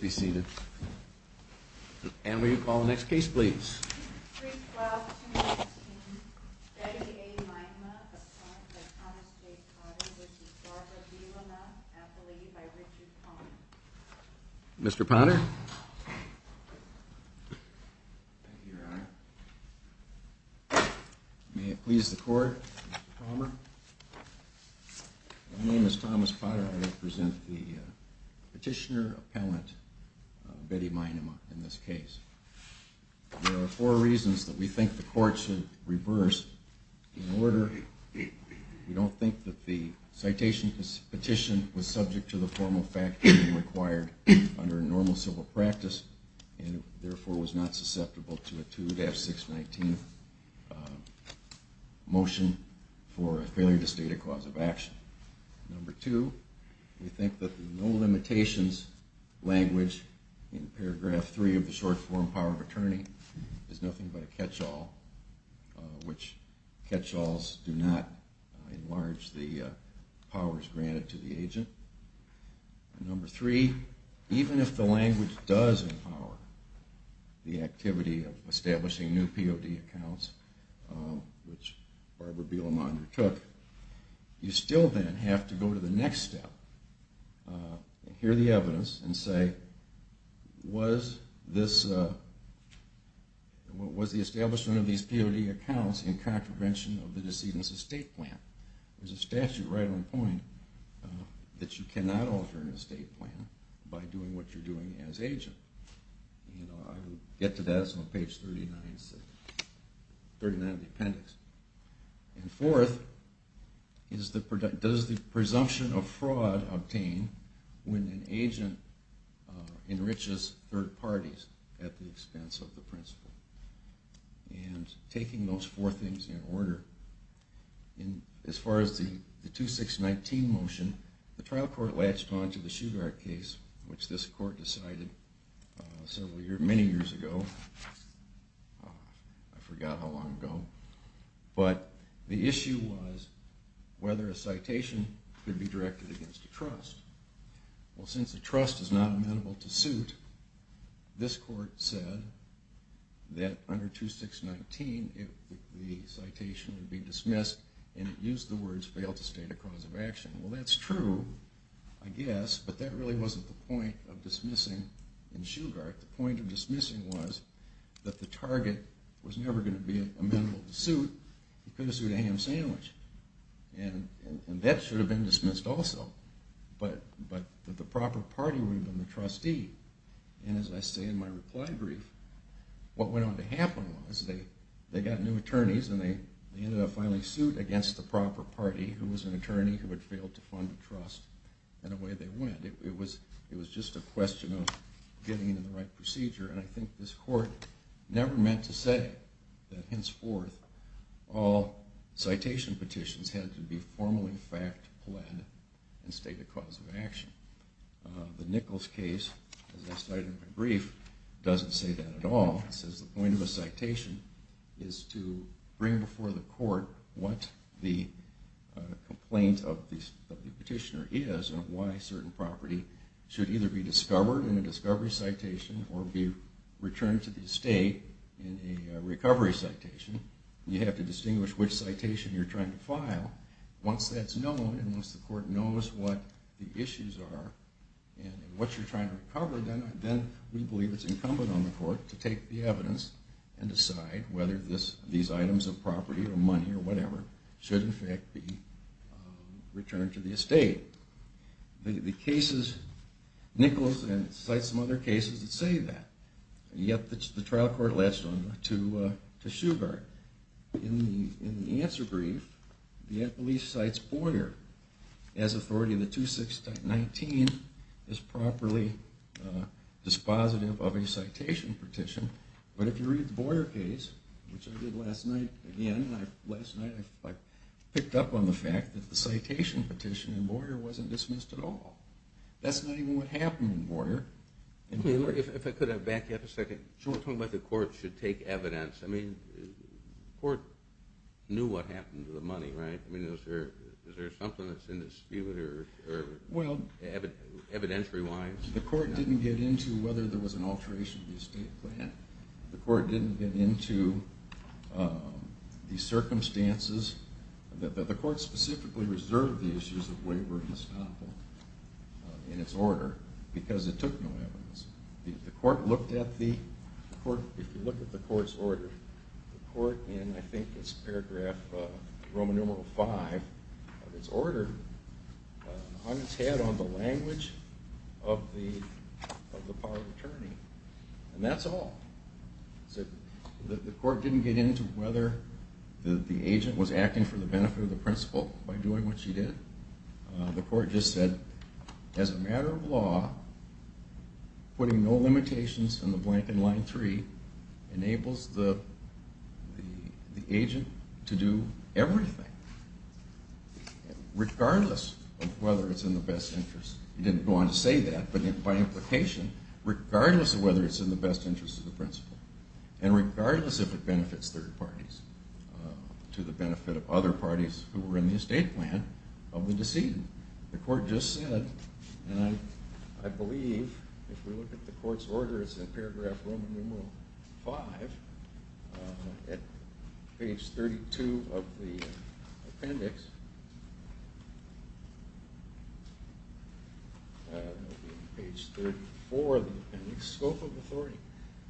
be seated. And when you are seated, I would like to introduce Mr. Thomas Potter, which is part of the U. M. Act, appellate by Richard Palmer. Mr. Potter? Thank you, Your Honor. May it please the Court, Mr. Palmer? My name is Thomas Potter. I represent the petitioner-appellant Betty Meinema in this case. There are four reasons that we think the Court should reverse the order. Number one, we don't think that the citation petition was subject to the formal fact-checking required under normal civil practice, and therefore was not susceptible to a 2-619 motion for a failure to state a cause of action. Number two, we think that the no limitations language in paragraph three of the short form power of attorney is nothing but a catch-all, which catch-alls do not enlarge the powers granted to the agent. Number three, even if the language does empower the activity of establishing new POD accounts, which Barbara Belamonder took, you still then have to go to the next step, hear the evidence, and say was the establishment of these POD accounts in contravention of the decedent's estate plan. There is a statute right on point that you cannot alter an estate plan by doing what you are doing as an agent. I will get to that, it's on page 39 of the appendix. And fourth, does the presumption of fraud obtain when an agent enriches third parties at the expense of the principal? And taking those four things in order, as far as the 2-619 motion, the trial court latched on to the Shugart case, which this court decided many years ago. I forgot how long ago. But the issue was whether a citation could be directed against a trust. Well, since a trust is not amenable to suit, this court said, that under 2-619 the citation would be dismissed and it used the words, failed to state a cause of action. Well, that's true, I guess, but that really wasn't the point of dismissing in Shugart. The point of dismissing was that the target was never going to be amenable to suit, he could have sued a ham sandwich. And that should have been dismissed also. But the proper party would have been the trustee. And as I say in my reply brief, what went on to happen was they got new attorneys and they ended up finally suing against the proper party who was an attorney who had failed to fund a trust, and away they went. It was just a question of getting it in the right procedure. And I think this court never meant to say that henceforth all citation petitions had to be formally fact-led and state a cause of action. The Nichols case, as I cite in my brief, doesn't say that at all. It says the point of a citation is to bring before the court what the complaint of the petitioner is and why certain property should either be discovered in a discovery citation or be returned to the estate in a recovery citation. You have to distinguish which citation you're trying to file. Once that's known and once the court knows what the issues are and what you're trying to recover, then we believe it's incumbent on the court to take the evidence and decide whether these items of property or money or whatever should in fact be returned to the estate. The cases, Nichols and I cite some other cases that say that. Yet the trial court latched on to Shugart. In the answer brief, the appellee cites Boyer as authority of the 2-6-19 as properly dispositive of a citation petition, but if you read the Boyer case, which I did last night, again, last night I picked up on the fact that the citation petition in Boyer was not a citation petition. Boyer wasn't dismissed at all. That's not even what happened in Boyer. If I could back you up a second. You were talking about the court should take evidence. I mean, the court knew what happened to the money, right? I mean, is there something that's in dispute evidentiary-wise? The court didn't get into whether there was an alteration of the estate plan. The court didn't get into the circumstances. The court specifically reserved the issues of waiver and estoppel in its order because it took no evidence. The court looked at the, if you look at the court's order, the court in I think it's paragraph Roman numeral 5 of its order hung its head on the language of the power of attorney and that's all. The court didn't get into whether the agent was acting for the benefit of the principal by doing what she did. The court just said, as a matter of law, putting no limitations in the blank in line 3 enables the agent to do everything, regardless of whether it's in the best interest. It didn't go on to say that, but by implication, regardless of whether it's in the best interest of the principal and regardless if it benefits third parties to the benefit of other parties who were in the estate plan of the decedent. The court just said, and I believe if we look at the court's order, it's in paragraph Roman numeral 5, at page 32 of the appendix, page 34 of the appendix, scope of authority,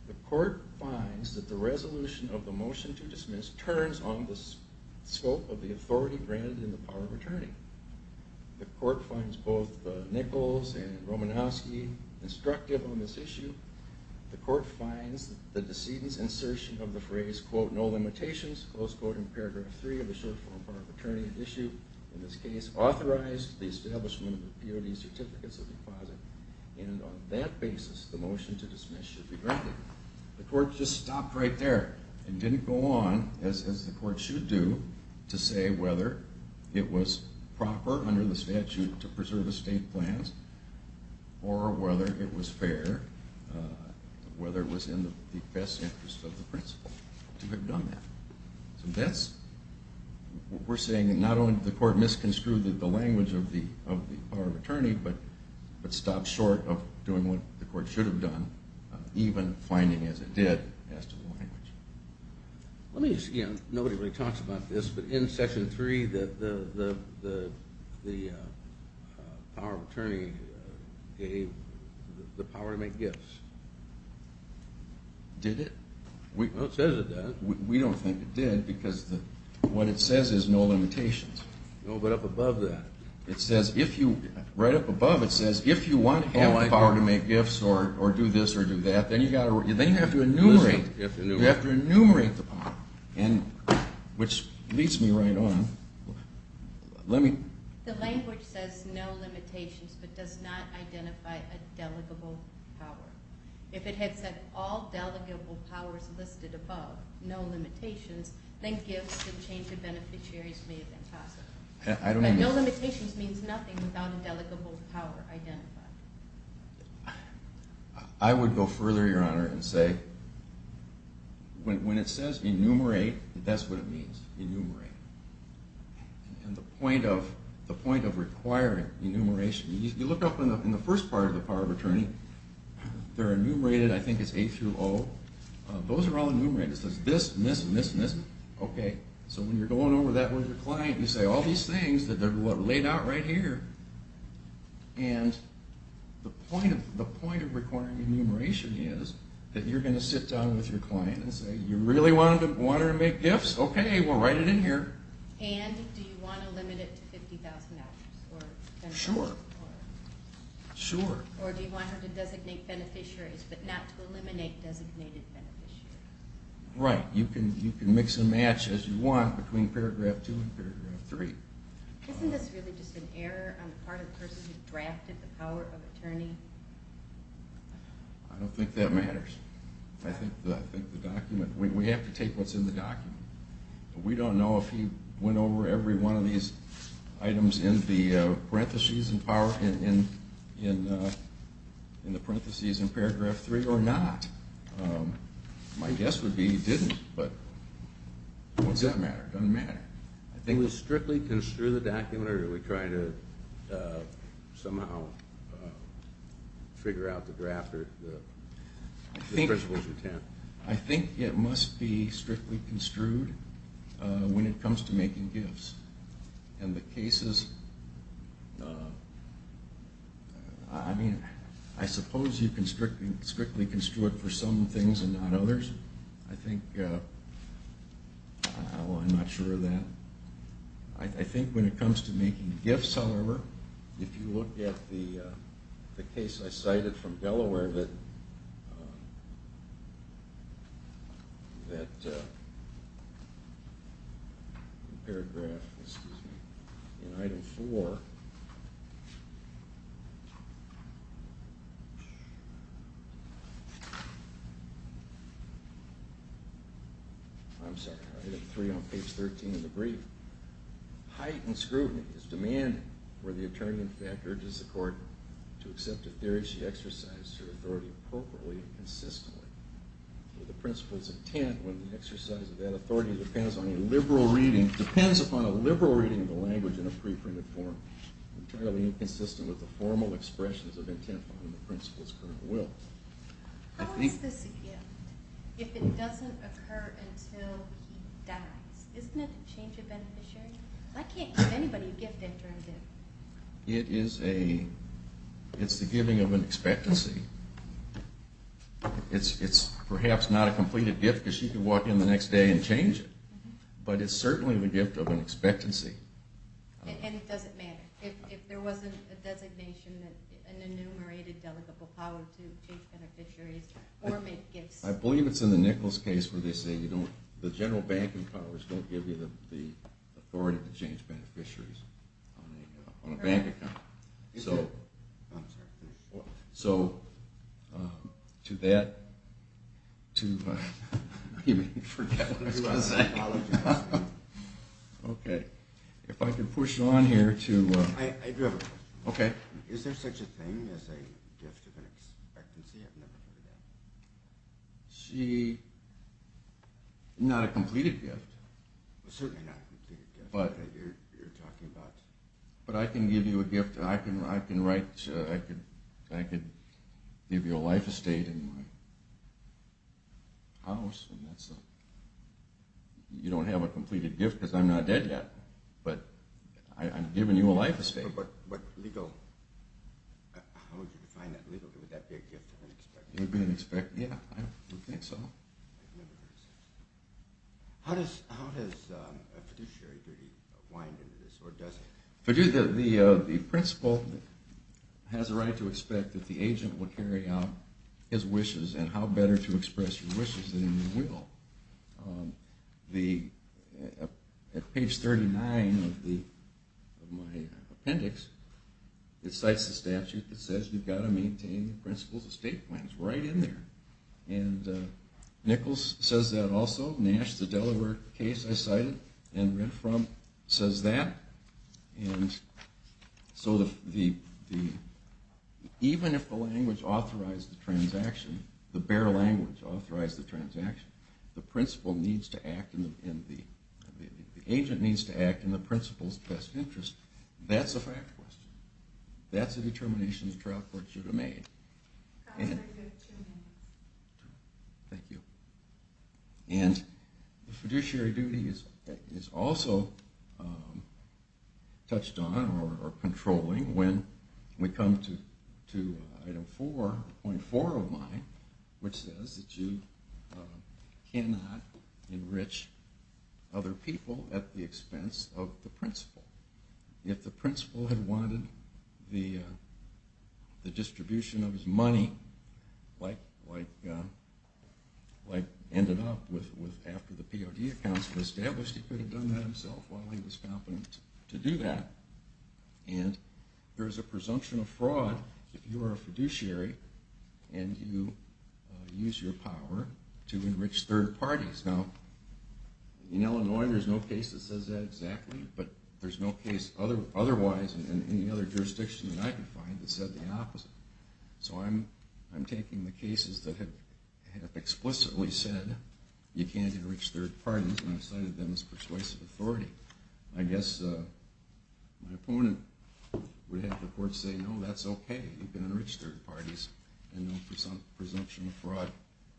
the court finds that the resolution of the motion to dismiss turns on the scope of the authority granted in the power of attorney. The court finds both Nichols and Romanowski instructive on this issue. The court finds the decedent's insertion of the phrase, quote, no limitations, close quote in paragraph 3 of the short form power of attorney issue in this case authorized the establishment of the purity certificates of deposit and on that basis the motion to dismiss should be granted. The court just stopped right there and didn't go on, as the court should do, to say whether it was proper under the statute to preserve estate plans or whether it was fair, whether it was in the best interest of the principal to have done that. So that's, we're saying that not only did the court misconstrue the language of the power of attorney, but stopped short of doing what the court should have done, even finding as it did as to the language. Let me just, you know, nobody really talks about this, but in section 3 the power of attorney gave the power to make gifts. Did it? Well it says it does. We don't think it did because what it says is no limitations. No, but up above that. It says if you, right up above it says if you want to have the power to make gifts or do this or do that, then you have to enumerate. You have to enumerate the power, which leads me right on. The language says no limitations, but does not identify a delegable power. If it had said all delegable powers listed above, no limitations, then gifts and change of beneficiaries may have been possible. No limitations means nothing without a delegable power identified. I would go further, Your Honor, and say when it says enumerate, that's what it means. Enumerate. And the point of requiring enumeration, you look up in the first part of the power of attorney, they're enumerated, I think it's A through O. Those are all enumerated. It says this and this and this and this. Okay, so when you're going over that with your client, you say all these things that are laid out right here, and the point of requiring enumeration is that you're going to sit down with your client and say you really want her to make gifts? Okay, well, write it in here. And do you want to limit it to 50,000 hours? Sure. Or do you want her to designate beneficiaries but not to eliminate designated beneficiaries? Right, you can mix and match as you want between paragraph two and paragraph three. Isn't this really just an error on the part of the person who drafted the power of attorney? I don't think that matters. I think the document, we have to take what's in the document. We don't know if he went over every one of these items in the parentheses in paragraph three or not. My guess would be he didn't, but what does that matter? It doesn't matter. I think we strictly construe the document, or are we trying to somehow figure out the draft or the principal's intent? I think it must be strictly construed when it comes to making gifts, and the cases, I mean, I suppose you can strictly construe it for some things and not others. I think, well, I'm not sure of that. I think when it comes to making gifts, however, if you look at the case I cited from Delaware that paragraph, excuse me, in item four. I'm sorry, item three on page 13 of the brief. Heightened scrutiny is demanded where the attorney in fact urges the court to accept a theory she exercised her authority appropriately and consistently. The principal's intent when the exercise of that authority depends on a liberal reading, depends upon a liberal reading of the language in a preprinted form, entirely inconsistent with the formal expressions of intent on the principal's current will. How is this a gift if it doesn't occur until he dies? Isn't it a change of beneficiary? I can't give anybody a gift after I'm dead. It is a, it's the giving of an expectancy. It's perhaps not a completed gift because she can walk in the next day and change it, but it's certainly the gift of an expectancy. And it doesn't matter. If there wasn't a designation, an enumerated delegable power to change beneficiaries or make gifts. I believe it's in the Nichols case where they say you don't, the general banking powers don't give you the authority to change beneficiaries on a bank account. Okay. If I can push on here. I do have a question. Okay. Is there such a thing as a gift of an expectancy? I've never heard of that. She, not a completed gift. But I can give you a gift. I can write, I can give you a life estate in my house. You don't have a completed gift because I'm not dead yet, but I'm giving you a life estate. How would you define that legally? Would that be a gift of an expectancy? It would be an expectancy. Yeah, I would think so. I've never heard of such a thing. How does a fiduciary degree wind into this or does it? The principal has a right to expect that the agent will carry out his wishes and how better to express your wishes than you will. At page 39 of my appendix it cites the statute that says you've got to maintain the principles of state plans right in there. And Nichols says that also. Nash, the Delaware case I cited and read from says that. And so even if the language authorized the transaction, the bare language authorized the transaction, the principal needs to act and the agent needs to act in the principal's best interest. That's a fact question. That's a determination the trial court should have made. Thank you. And the fiduciary duty is also touched on or controlling when we come to item 4.4 of mine which says that you cannot enrich other people at the expense of the principal. If the principal had wanted the distribution of his money, like ended up with after the POD accounts were established, he could have done that himself while he was competent to do that. And there is a presumption of fraud if you are a fiduciary and you use your power to enrich third parties. Now, in Illinois there is no case that says that exactly, but there is no case otherwise in any other jurisdiction that I could find that said the opposite. So I'm taking the cases that have explicitly said you can't enrich third parties and I've cited them as persuasive authority. I guess my opponent would have the court say no, that's okay, you can enrich third parties and no presumption of fraud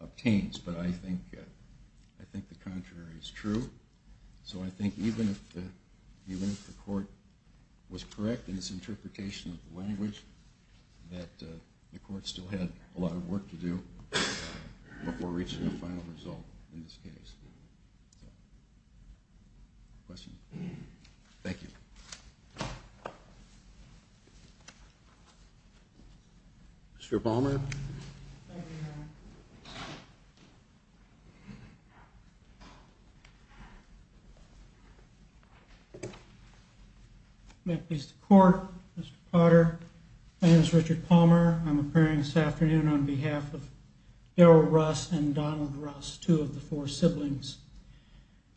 obtains, but I think the contrary is true. So I think even if the court was correct in its interpretation of the language, that the court still had a lot of work to do before reaching a final result in this case. Questions? Thank you. Mr. Palmer. May it please the court, Mr. Potter. My name is Richard Palmer. I'm appearing this afternoon on behalf of Harold Russ and Donald Russ, two of the four siblings.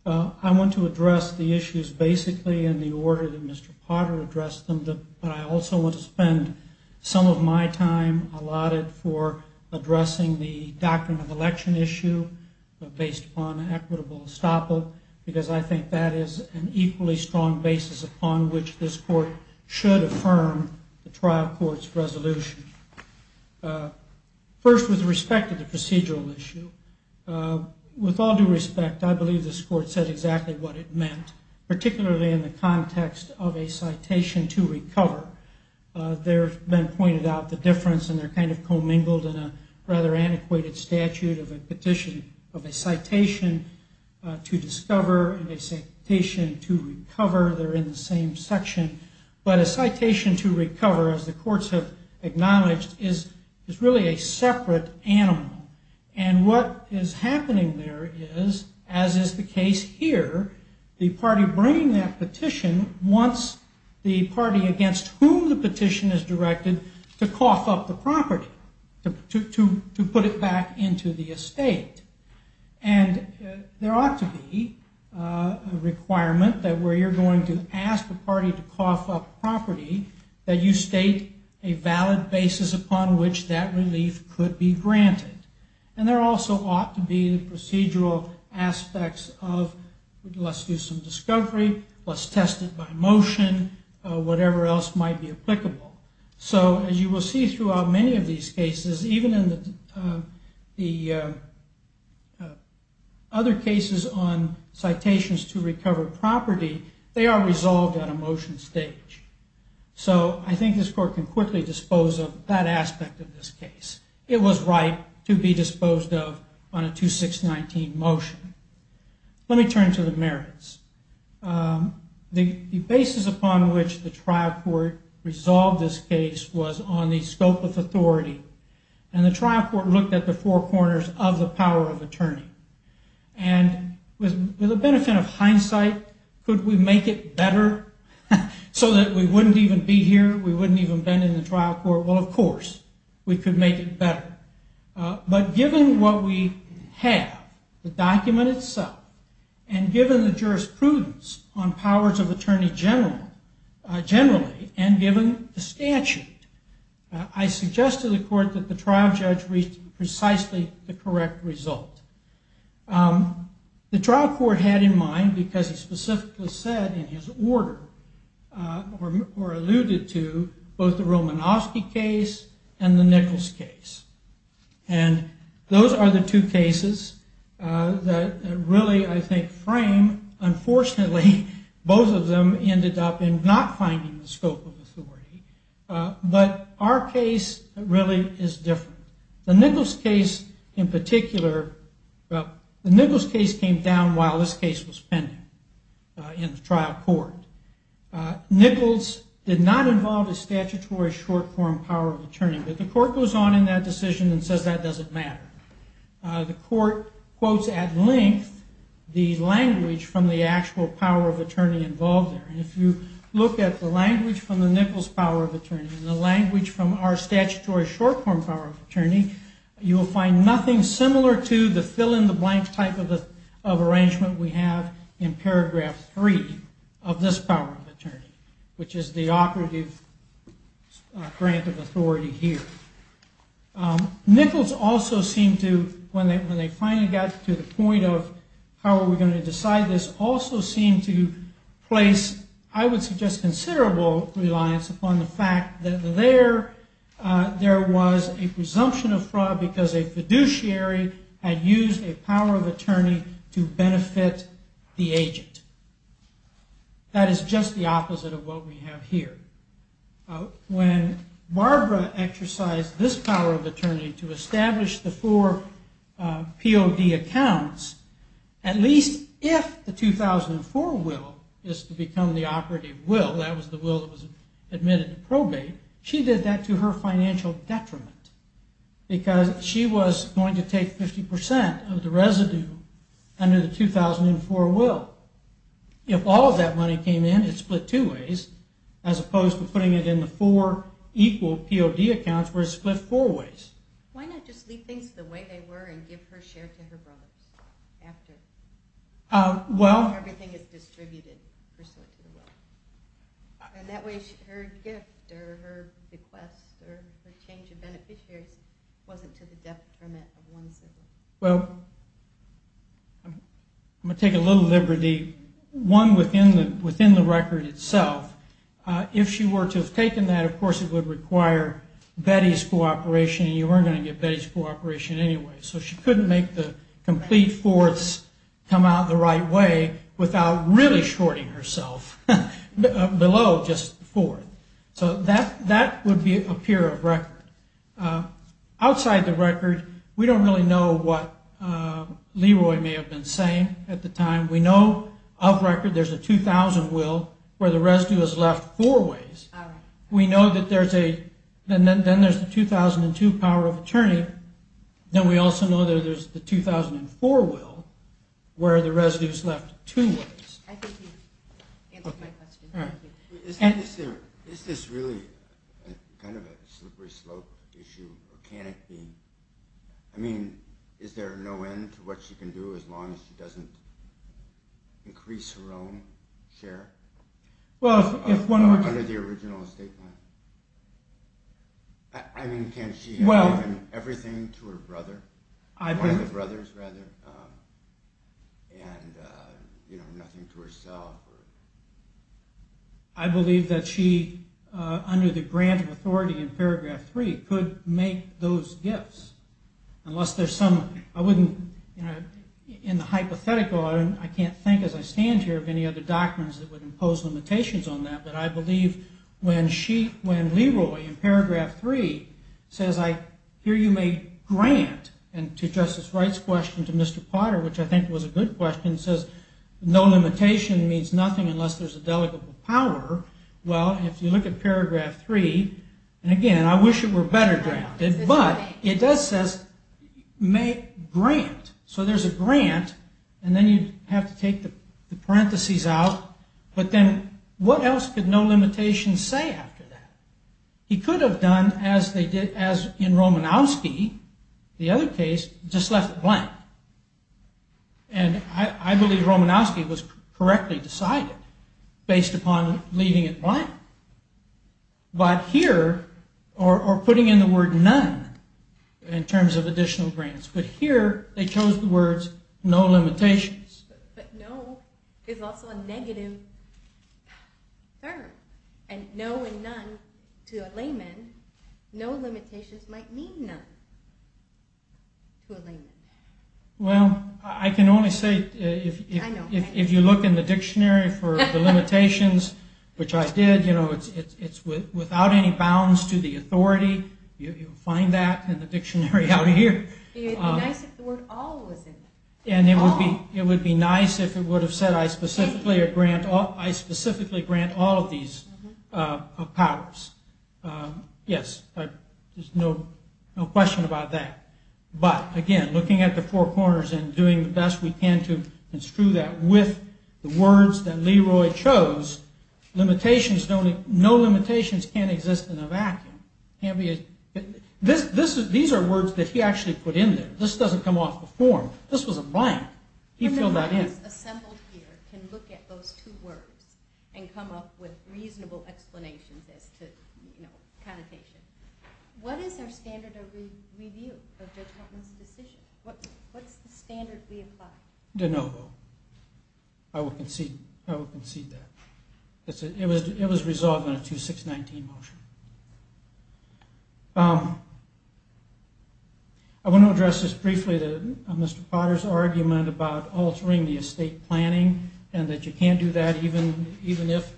I want to address the issues basically in the order that Mr. Potter addressed them, but I also want to spend some of my time allotted for addressing the doctrine of election issue based upon equitable estoppel, because I think that is an equally strong basis upon which this court should affirm the trial court's resolution. First, with respect to the procedural issue, with all due respect, I believe this court said exactly what it meant, particularly in the context of a citation to recover. There have been pointed out the difference, and they're kind of commingled in a rather antiquated statute of a petition of a citation to discover and a citation to recover. They're in the same section. But a citation to recover, as the courts have acknowledged, is really a separate animal. And what is happening there is, as is the case here, the party bringing that petition wants the party against whom the petition is directed to cough up the property, to put it back into the estate. And there ought to be a requirement that where you're going to ask the party to cough up property, that you state a valid basis upon which that relief could be granted. And there also ought to be the procedural aspects of let's do some discovery, let's test it by motion, whatever else might be applicable. So as you will see throughout many of these cases, even in the other cases on citations to recover property, they are resolved on a motion stage. So I think this court can quickly dispose of that aspect of this case. It was right to be disposed of on a 2619 motion. Let me turn to the merits. The basis upon which the trial court resolved this case was on the scope of authority. And the trial court looked at the four corners of the power of attorney. And with the benefit of hindsight, could we make it better so that we wouldn't even be here, we wouldn't even bend in the trial court? Well, of course, we could make it better. But given what we have, the document itself, and given the jurisprudence on powers of attorney generally, and given the statute, I suggest to the court that the trial judge reach precisely the correct result. The trial court had in mind, because he specifically said in his order, or alluded to, both the Romanofsky case and the Nichols case. And those are the two cases that really, I think, frame. Unfortunately, both of them ended up in not finding the scope of authority. But our case really is different. The Nichols case in particular, well, the Nichols case came down while this case was pending in the trial court. Nichols did not involve a statutory short-form power of attorney. But the court goes on in that decision and says that doesn't matter. The court quotes at length the language from the actual power of attorney involved there. And if you look at the language from the Nichols power of attorney and the language from our statutory short-form power of attorney, you will find nothing similar to the fill-in-the-blank type of arrangement we have in paragraph 3 of this power of attorney, which is the operative grant of authority here. Nichols also seemed to, when they finally got to the point of how are we going to decide this, also seemed to place, I would suggest, considerable reliance upon the fact that there was a presumption of fraud because a fiduciary had used a power of attorney to benefit the agent. That is just the opposite of what we have here. When Barbara exercised this power of attorney to establish the four POD accounts, at least if the 2004 will is to become the operative will, that was the will that was admitted to probate, she did that to her financial detriment because she was going to take 50% of the residue under the 2004 will. If all of that money came in, it split two ways as opposed to putting it in the four equal POD accounts where it split four ways. Why not just leave things the way they were and give her share to her brothers after everything is distributed pursuant to the will? And that way her gift or her request or her change of beneficiaries wasn't to the detriment of one sibling. Well, I'm going to take a little liberty. One within the record itself, if she were to have taken that, of course it would require Betty's cooperation and you weren't going to get Betty's cooperation anyway. So she couldn't make the complete fourths come out the right way without really shorting herself below just the fourth. So that would be a peer of record. Outside the record, we don't really know what Leroy may have been saying at the time. We know of record there's a 2000 will where the residue is left four ways. Then there's the 2002 power of attorney. Then we also know there's the 2004 will where the residue is left two ways. I think you've answered my question. Is this really kind of a slippery slope issue or can it be? I mean, is there no end to what she can do as long as she doesn't increase her own share? Well, if one were to... Under the original statement? I mean, can she have given everything to her brother? One of the brothers, rather, and nothing to herself? I believe that she, under the grant of authority in paragraph three, could make those gifts. Unless there's some... In the hypothetical, I can't think as I stand here of any other doctrines that would impose limitations on that, but I believe when Leroy, in paragraph three, says here you may grant, and to Justice Wright's question to Mr. Potter, which I think was a good question, says no limitation means nothing unless there's a delegable power. Well, if you look at paragraph three, and again, I wish it were better granted, but it does say grant. So there's a grant, and then you have to take the parentheses out. But then what else could no limitation say after that? He could have done as in Romanowski, the other case, just left it blank. And I believe Romanowski was correctly decided based upon leaving it blank. But here, or putting in the word none in terms of additional grants, but here they chose the words no limitations. But no is also a negative term. And no and none to a layman, no limitations might mean none to a layman. Well, I can only say if you look in the dictionary for the limitations, which I did, it's without any bounds to the authority. You'll find that in the dictionary out here. It would be nice if the word all was in there. And it would be nice if it would have said I specifically grant all of these powers. Yes, there's no question about that. But, again, looking at the four corners and doing the best we can to construe that with the words that Leroy chose, no limitations can exist in a vacuum. These are words that he actually put in there. This doesn't come off the form. This was a blank. He filled that in. Everyone who's assembled here can look at those two words and come up with reasonable explanations as to connotation. What is our standard of review of Judge Hartman's decision? What's the standard we apply? De novo. I will concede that. It was resolved in a 2-619 motion. I want to address this briefly, Mr. Potter's argument about altering the estate planning and that you can't do that even if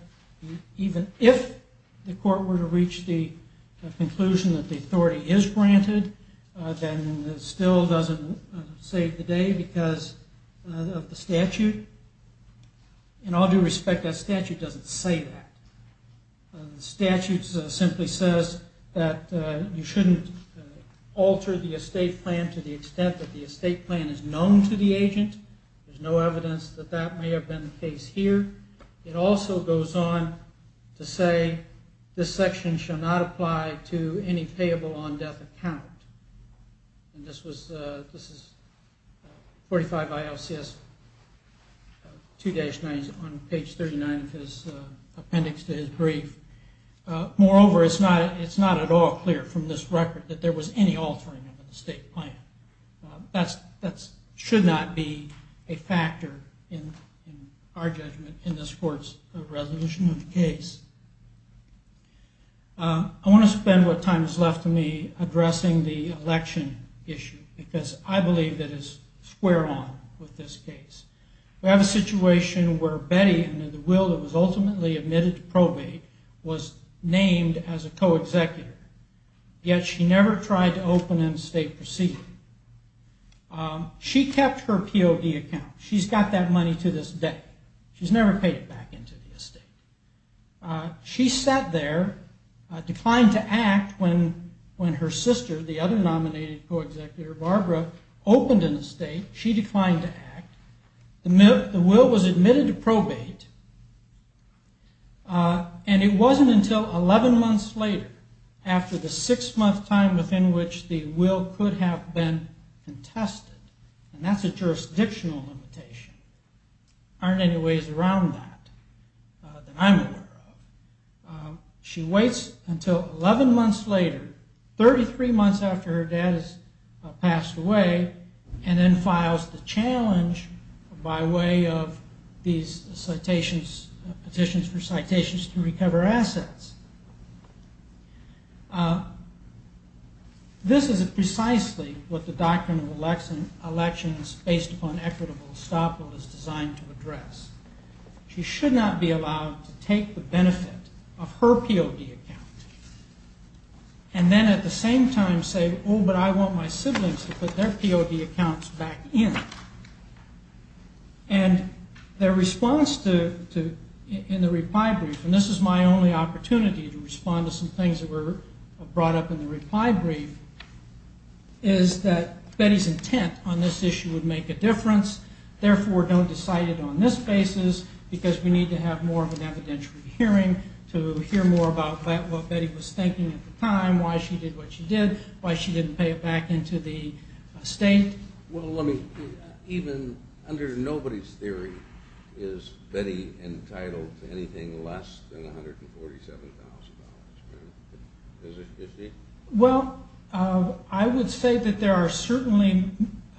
the court were to reach the conclusion that the authority is granted, then it still doesn't save the day because of the statute. In all due respect, that statute doesn't say that. The statute simply says that you shouldn't alter the estate plan to the extent that the estate plan is known to the agent. There's no evidence that that may have been the case here. It also goes on to say, this section shall not apply to any payable on death account. This is 45 ILCS 2-9 on page 39 of his appendix to his brief. Moreover, it's not at all clear from this record that there was any altering of the estate plan. That should not be a factor in our judgment in this court's resolution of the case. I want to spend what time is left to me addressing the election issue because I believe that it's square on with this case. We have a situation where Betty, under the will that was ultimately admitted to probate, was named as a co-executor, yet she never tried to open an estate proceeding. She kept her POD account. She's got that money to this day. She's never paid it back into the estate. She sat there, declined to act, when her sister, the other nominated co-executor, Barbara, opened an estate. She declined to act. The will was admitted to probate, and it wasn't until 11 months later, after the six-month time within which the will could have been contested, and that's a jurisdictional limitation. There aren't any ways around that that I'm aware of. She waits until 11 months later, 33 months after her dad has passed away, and then files the challenge by way of these petitions for citations to recover assets. This is precisely what the doctrine of elections based upon equitable estoppel is designed to address. She should not be allowed to take the benefit of her POD account, and then at the same time say, oh, but I want my siblings to put their POD accounts back in. And their response in the reply brief, and this is my only opportunity to respond to some things that were brought up in the reply brief, is that Betty's intent on this issue would make a difference. Therefore, don't decide it on this basis, because we need to have more of an evidentiary hearing to hear more about what Betty was thinking at the time, why she did what she did, why she didn't pay it back into the state. Well, even under nobody's theory, is Betty entitled to anything less than $147,000? Well, I would say that there are certainly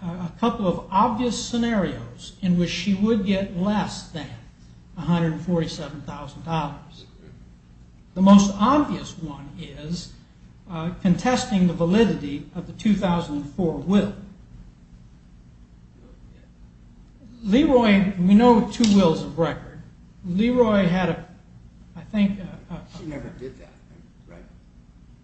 a couple of obvious scenarios in which she would get less than $147,000. The most obvious one is contesting the validity of the 2004 will. Leroy, we know two wills of record. Leroy had, I think... She never did that, right?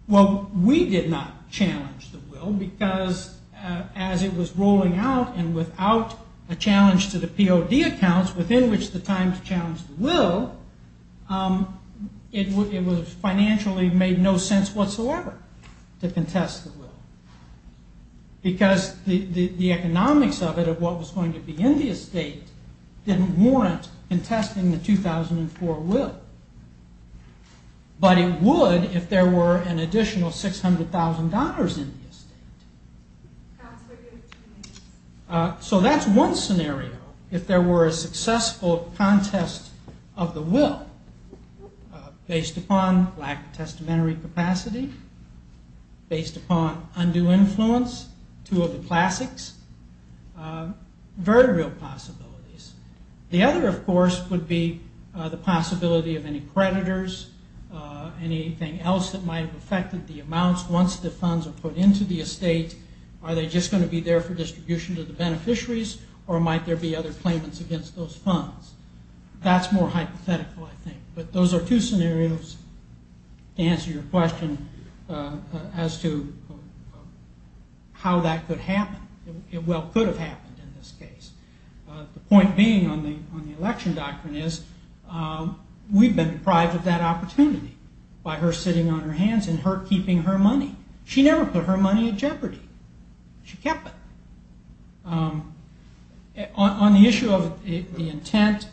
Well, we did not challenge the will, because as it was rolling out, and without a challenge to the POD accounts, within which the Times challenged the will, it was financially made no sense whatsoever to contest the will. Because the economics of it, of what was going to be in the estate, didn't warrant contesting the 2004 will. But it would if there were an additional $600,000 in the estate. So that's one scenario. If there were a successful contest of the will, based upon lack of testamentary capacity, based upon undue influence, two of the classics, very real possibilities. The other, of course, would be the possibility of any creditors, anything else that might have affected the amounts once the funds are put into the estate. Are they just going to be there for distribution to the beneficiaries, or might there be other claimants against those funds? That's more hypothetical, I think. But those are two scenarios to answer your question as to how that could happen. It well could have happened in this case. The point being on the election doctrine is we've been deprived of that opportunity by her sitting on her hands and her keeping her money. She never put her money in jeopardy. She kept it. On the issue of the intent,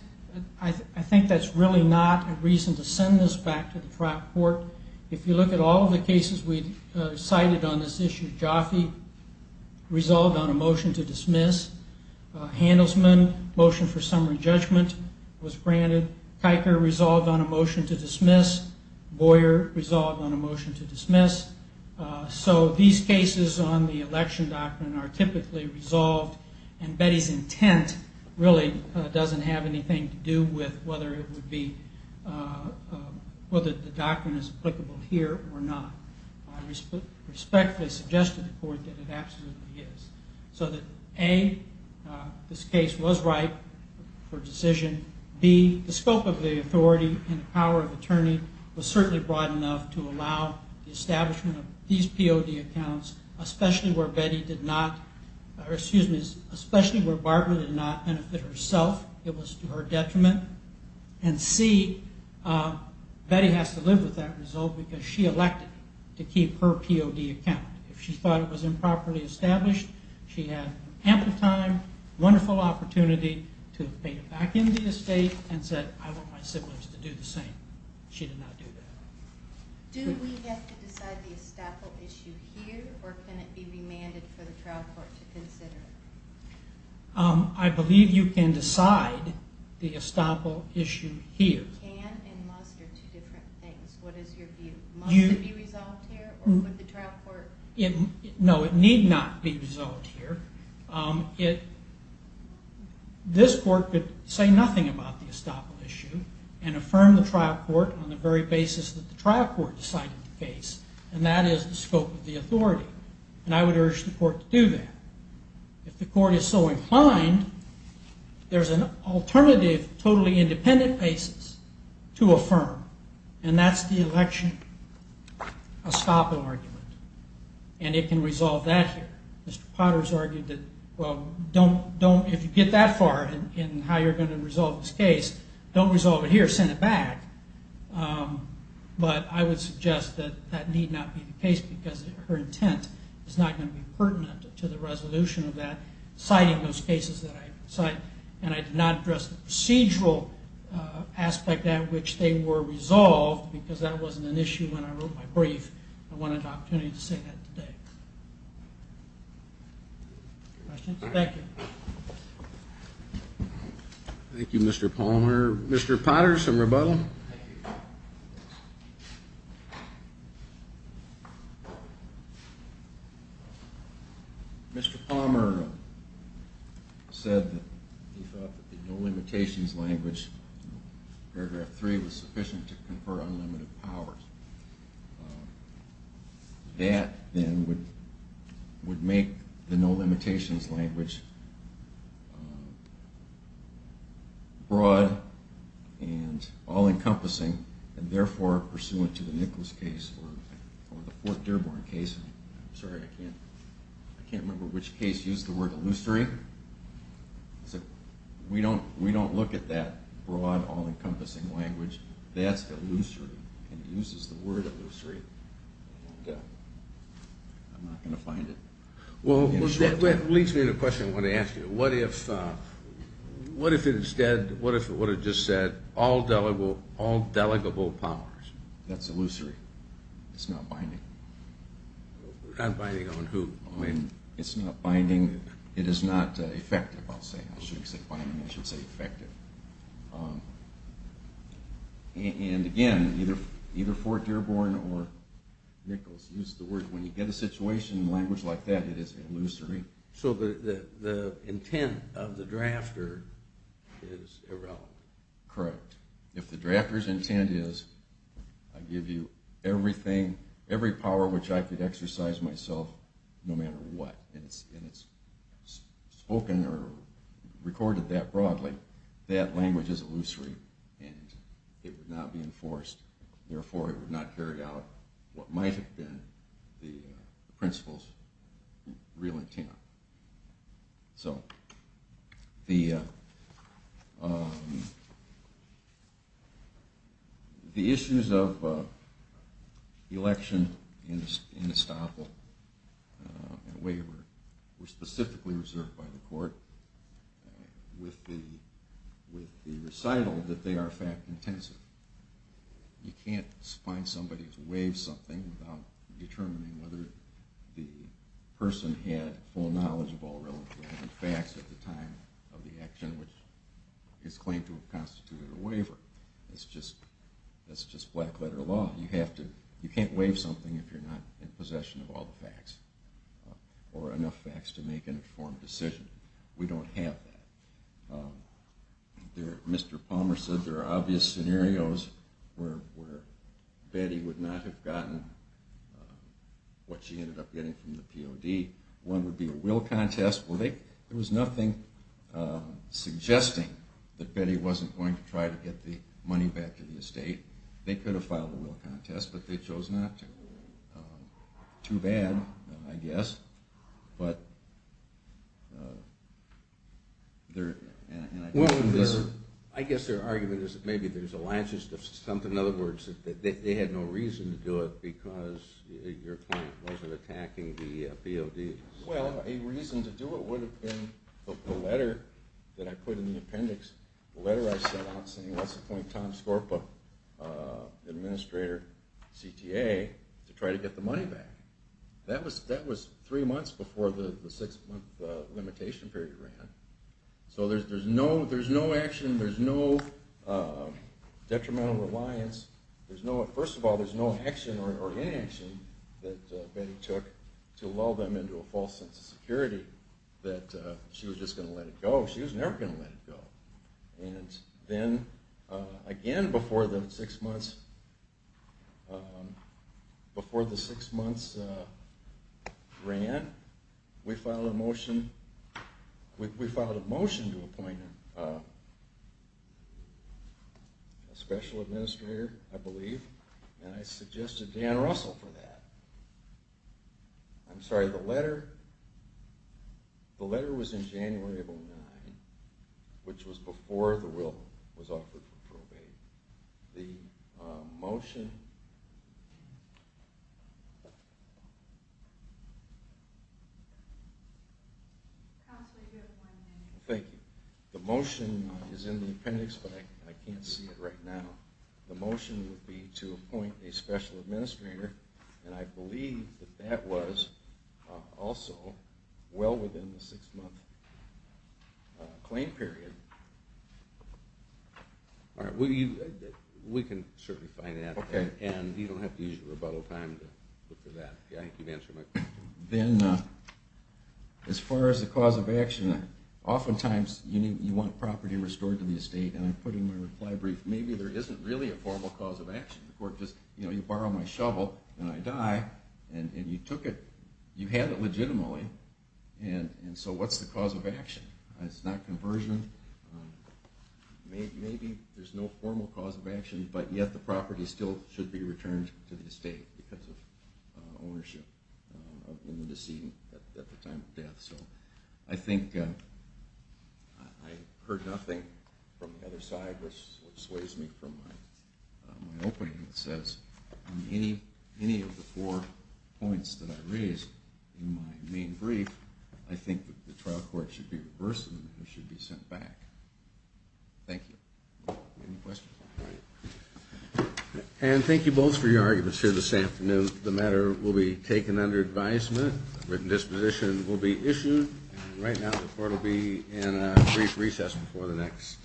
I think that's really not a reason to send this back to the trial court. If you look at all of the cases we cited on this issue, resolved on a motion to dismiss. Handelsman, motion for summary judgment was granted. Kiker resolved on a motion to dismiss. Boyer resolved on a motion to dismiss. So these cases on the election doctrine are typically resolved, and Betty's intent really doesn't have anything to do with whether the doctrine is applicable here or not. I respectfully suggest to the court that it absolutely is. So that A, this case was ripe for decision. B, the scope of the authority and power of attorney was certainly broad enough to allow the establishment of these POD accounts, especially where Betty did not, or excuse me, especially where Barbara did not benefit herself. It was to her detriment. And C, Betty has to live with that result because she elected to keep her POD account. If she thought it was improperly established, she had ample time, wonderful opportunity to have paid it back into the estate and said, I want my siblings to do the same. She did not do that. Do we have to decide the estoppel issue here, or can it be demanded for the trial court to consider it? I believe you can decide the estoppel issue here. Can and must are two different things. What is your view? Must it be resolved here, or would the trial court? No, it need not be resolved here. This court could say nothing about the estoppel issue and affirm the trial court on the very basis that the trial court decided the case, and that is the scope of the authority. And I would urge the court to do that. If the court is so inclined, there's an alternative totally independent basis to affirm, and that's the election estoppel argument. And it can resolve that here. Mr. Potter has argued that, well, if you get that far in how you're going to resolve this case, don't resolve it here, send it back. But I would suggest that that need not be the case because her intent is not going to be pertinent to the resolution of that, and I did not address the procedural aspect at which they were resolved because that wasn't an issue when I wrote my brief. I wanted the opportunity to say that today. Questions? Thank you. Thank you, Mr. Palmer. Mr. Potter, some rebuttal? Thank you. Mr. Palmer said that he thought that the no limitations language in paragraph 3 was sufficient to confer unlimited powers. That then would make the no limitations language broad and all-encompassing and therefore pursuant to the Nicholas case or the Fort Dearborn case. I'm sorry, I can't remember which case used the word illusory. We don't look at that broad, all-encompassing language. That's illusory and uses the word illusory. I'm not going to find it. Well, that leads me to a question I want to ask you. What if it just said all delegable powers? That's illusory. It's not binding. Not binding on who? It's not binding. It is not effective, I'll say. I shouldn't say binding, I should say effective. And, again, either Fort Dearborn or Nichols used the word when you get a situation in language like that, it is illusory. So the intent of the drafter is irrelevant. Correct. If the drafter's intent is I give you everything, every power which I could exercise myself no matter what, and it's spoken or recorded that broadly, that language is illusory and it would not be enforced. Therefore, it would not carry out what might have been the principal's real intent. So the issues of election and estoppel and waiver were specifically reserved by the court with the recital that they are fact-intensive. You can't find somebody who's waived something without determining whether the person had full knowledge of all relevant facts at the time of the action which is claimed to have constituted a waiver. That's just black-letter law. You can't waive something if you're not in possession of all the facts or enough facts to make an informed decision. We don't have that. Mr. Palmer said there are obvious scenarios where Betty would not have gotten what she ended up getting from the POD. One would be a will contest. There was nothing suggesting that Betty wasn't going to try to get the money back to the estate. They could have filed a will contest, but they chose not to. Too bad, I guess. I guess their argument is that maybe there's a latches to something. In other words, they had no reason to do it because your client wasn't attacking the PODs. Well, a reason to do it would have been the letter that I put in the appendix, the letter I sent out saying let's appoint Tom Skorpa, the administrator, CTA, to try to get the money back. That was three months before the six-month limitation period ran. So there's no action, there's no detrimental reliance. First of all, there's no action or inaction that Betty took to lull them into a false sense of security that she was just going to let it go. She was never going to let it go. And then, again, before the six months ran, we filed a motion to appoint a special administrator, I believe, and I suggested Dan Russell for that. I'm sorry, the letter was in January of 2009, which was before the will was offered for probate. The motion is in the appendix, but I can't see it right now. The motion would be to appoint a special administrator, and I believe that that was also well within the six-month claim period. All right, we can certainly find that. And you don't have to use your rebuttal time to look for that. I think you've answered my question. Then, as far as the cause of action, oftentimes you want property restored to the estate, and I put in my reply brief, maybe there isn't really a formal cause of action. The court just, you know, you borrow my shovel, and I die, and you took it, you had it legitimately, and so what's the cause of action? It's not conversion. Maybe there's no formal cause of action, but yet the property still should be returned to the estate because of ownership in the decedent at the time of death. So I think I heard nothing from the other side, which sways me from my opening. It says on any of the four points that I raised in my main brief, I think that the trial court should be reversed and the matter should be sent back. Thank you. Any questions? And thank you both for your arguments here this afternoon. The matter will be taken under advisement. A written disposition will be issued. And right now the court will be in a brief recess before the next case.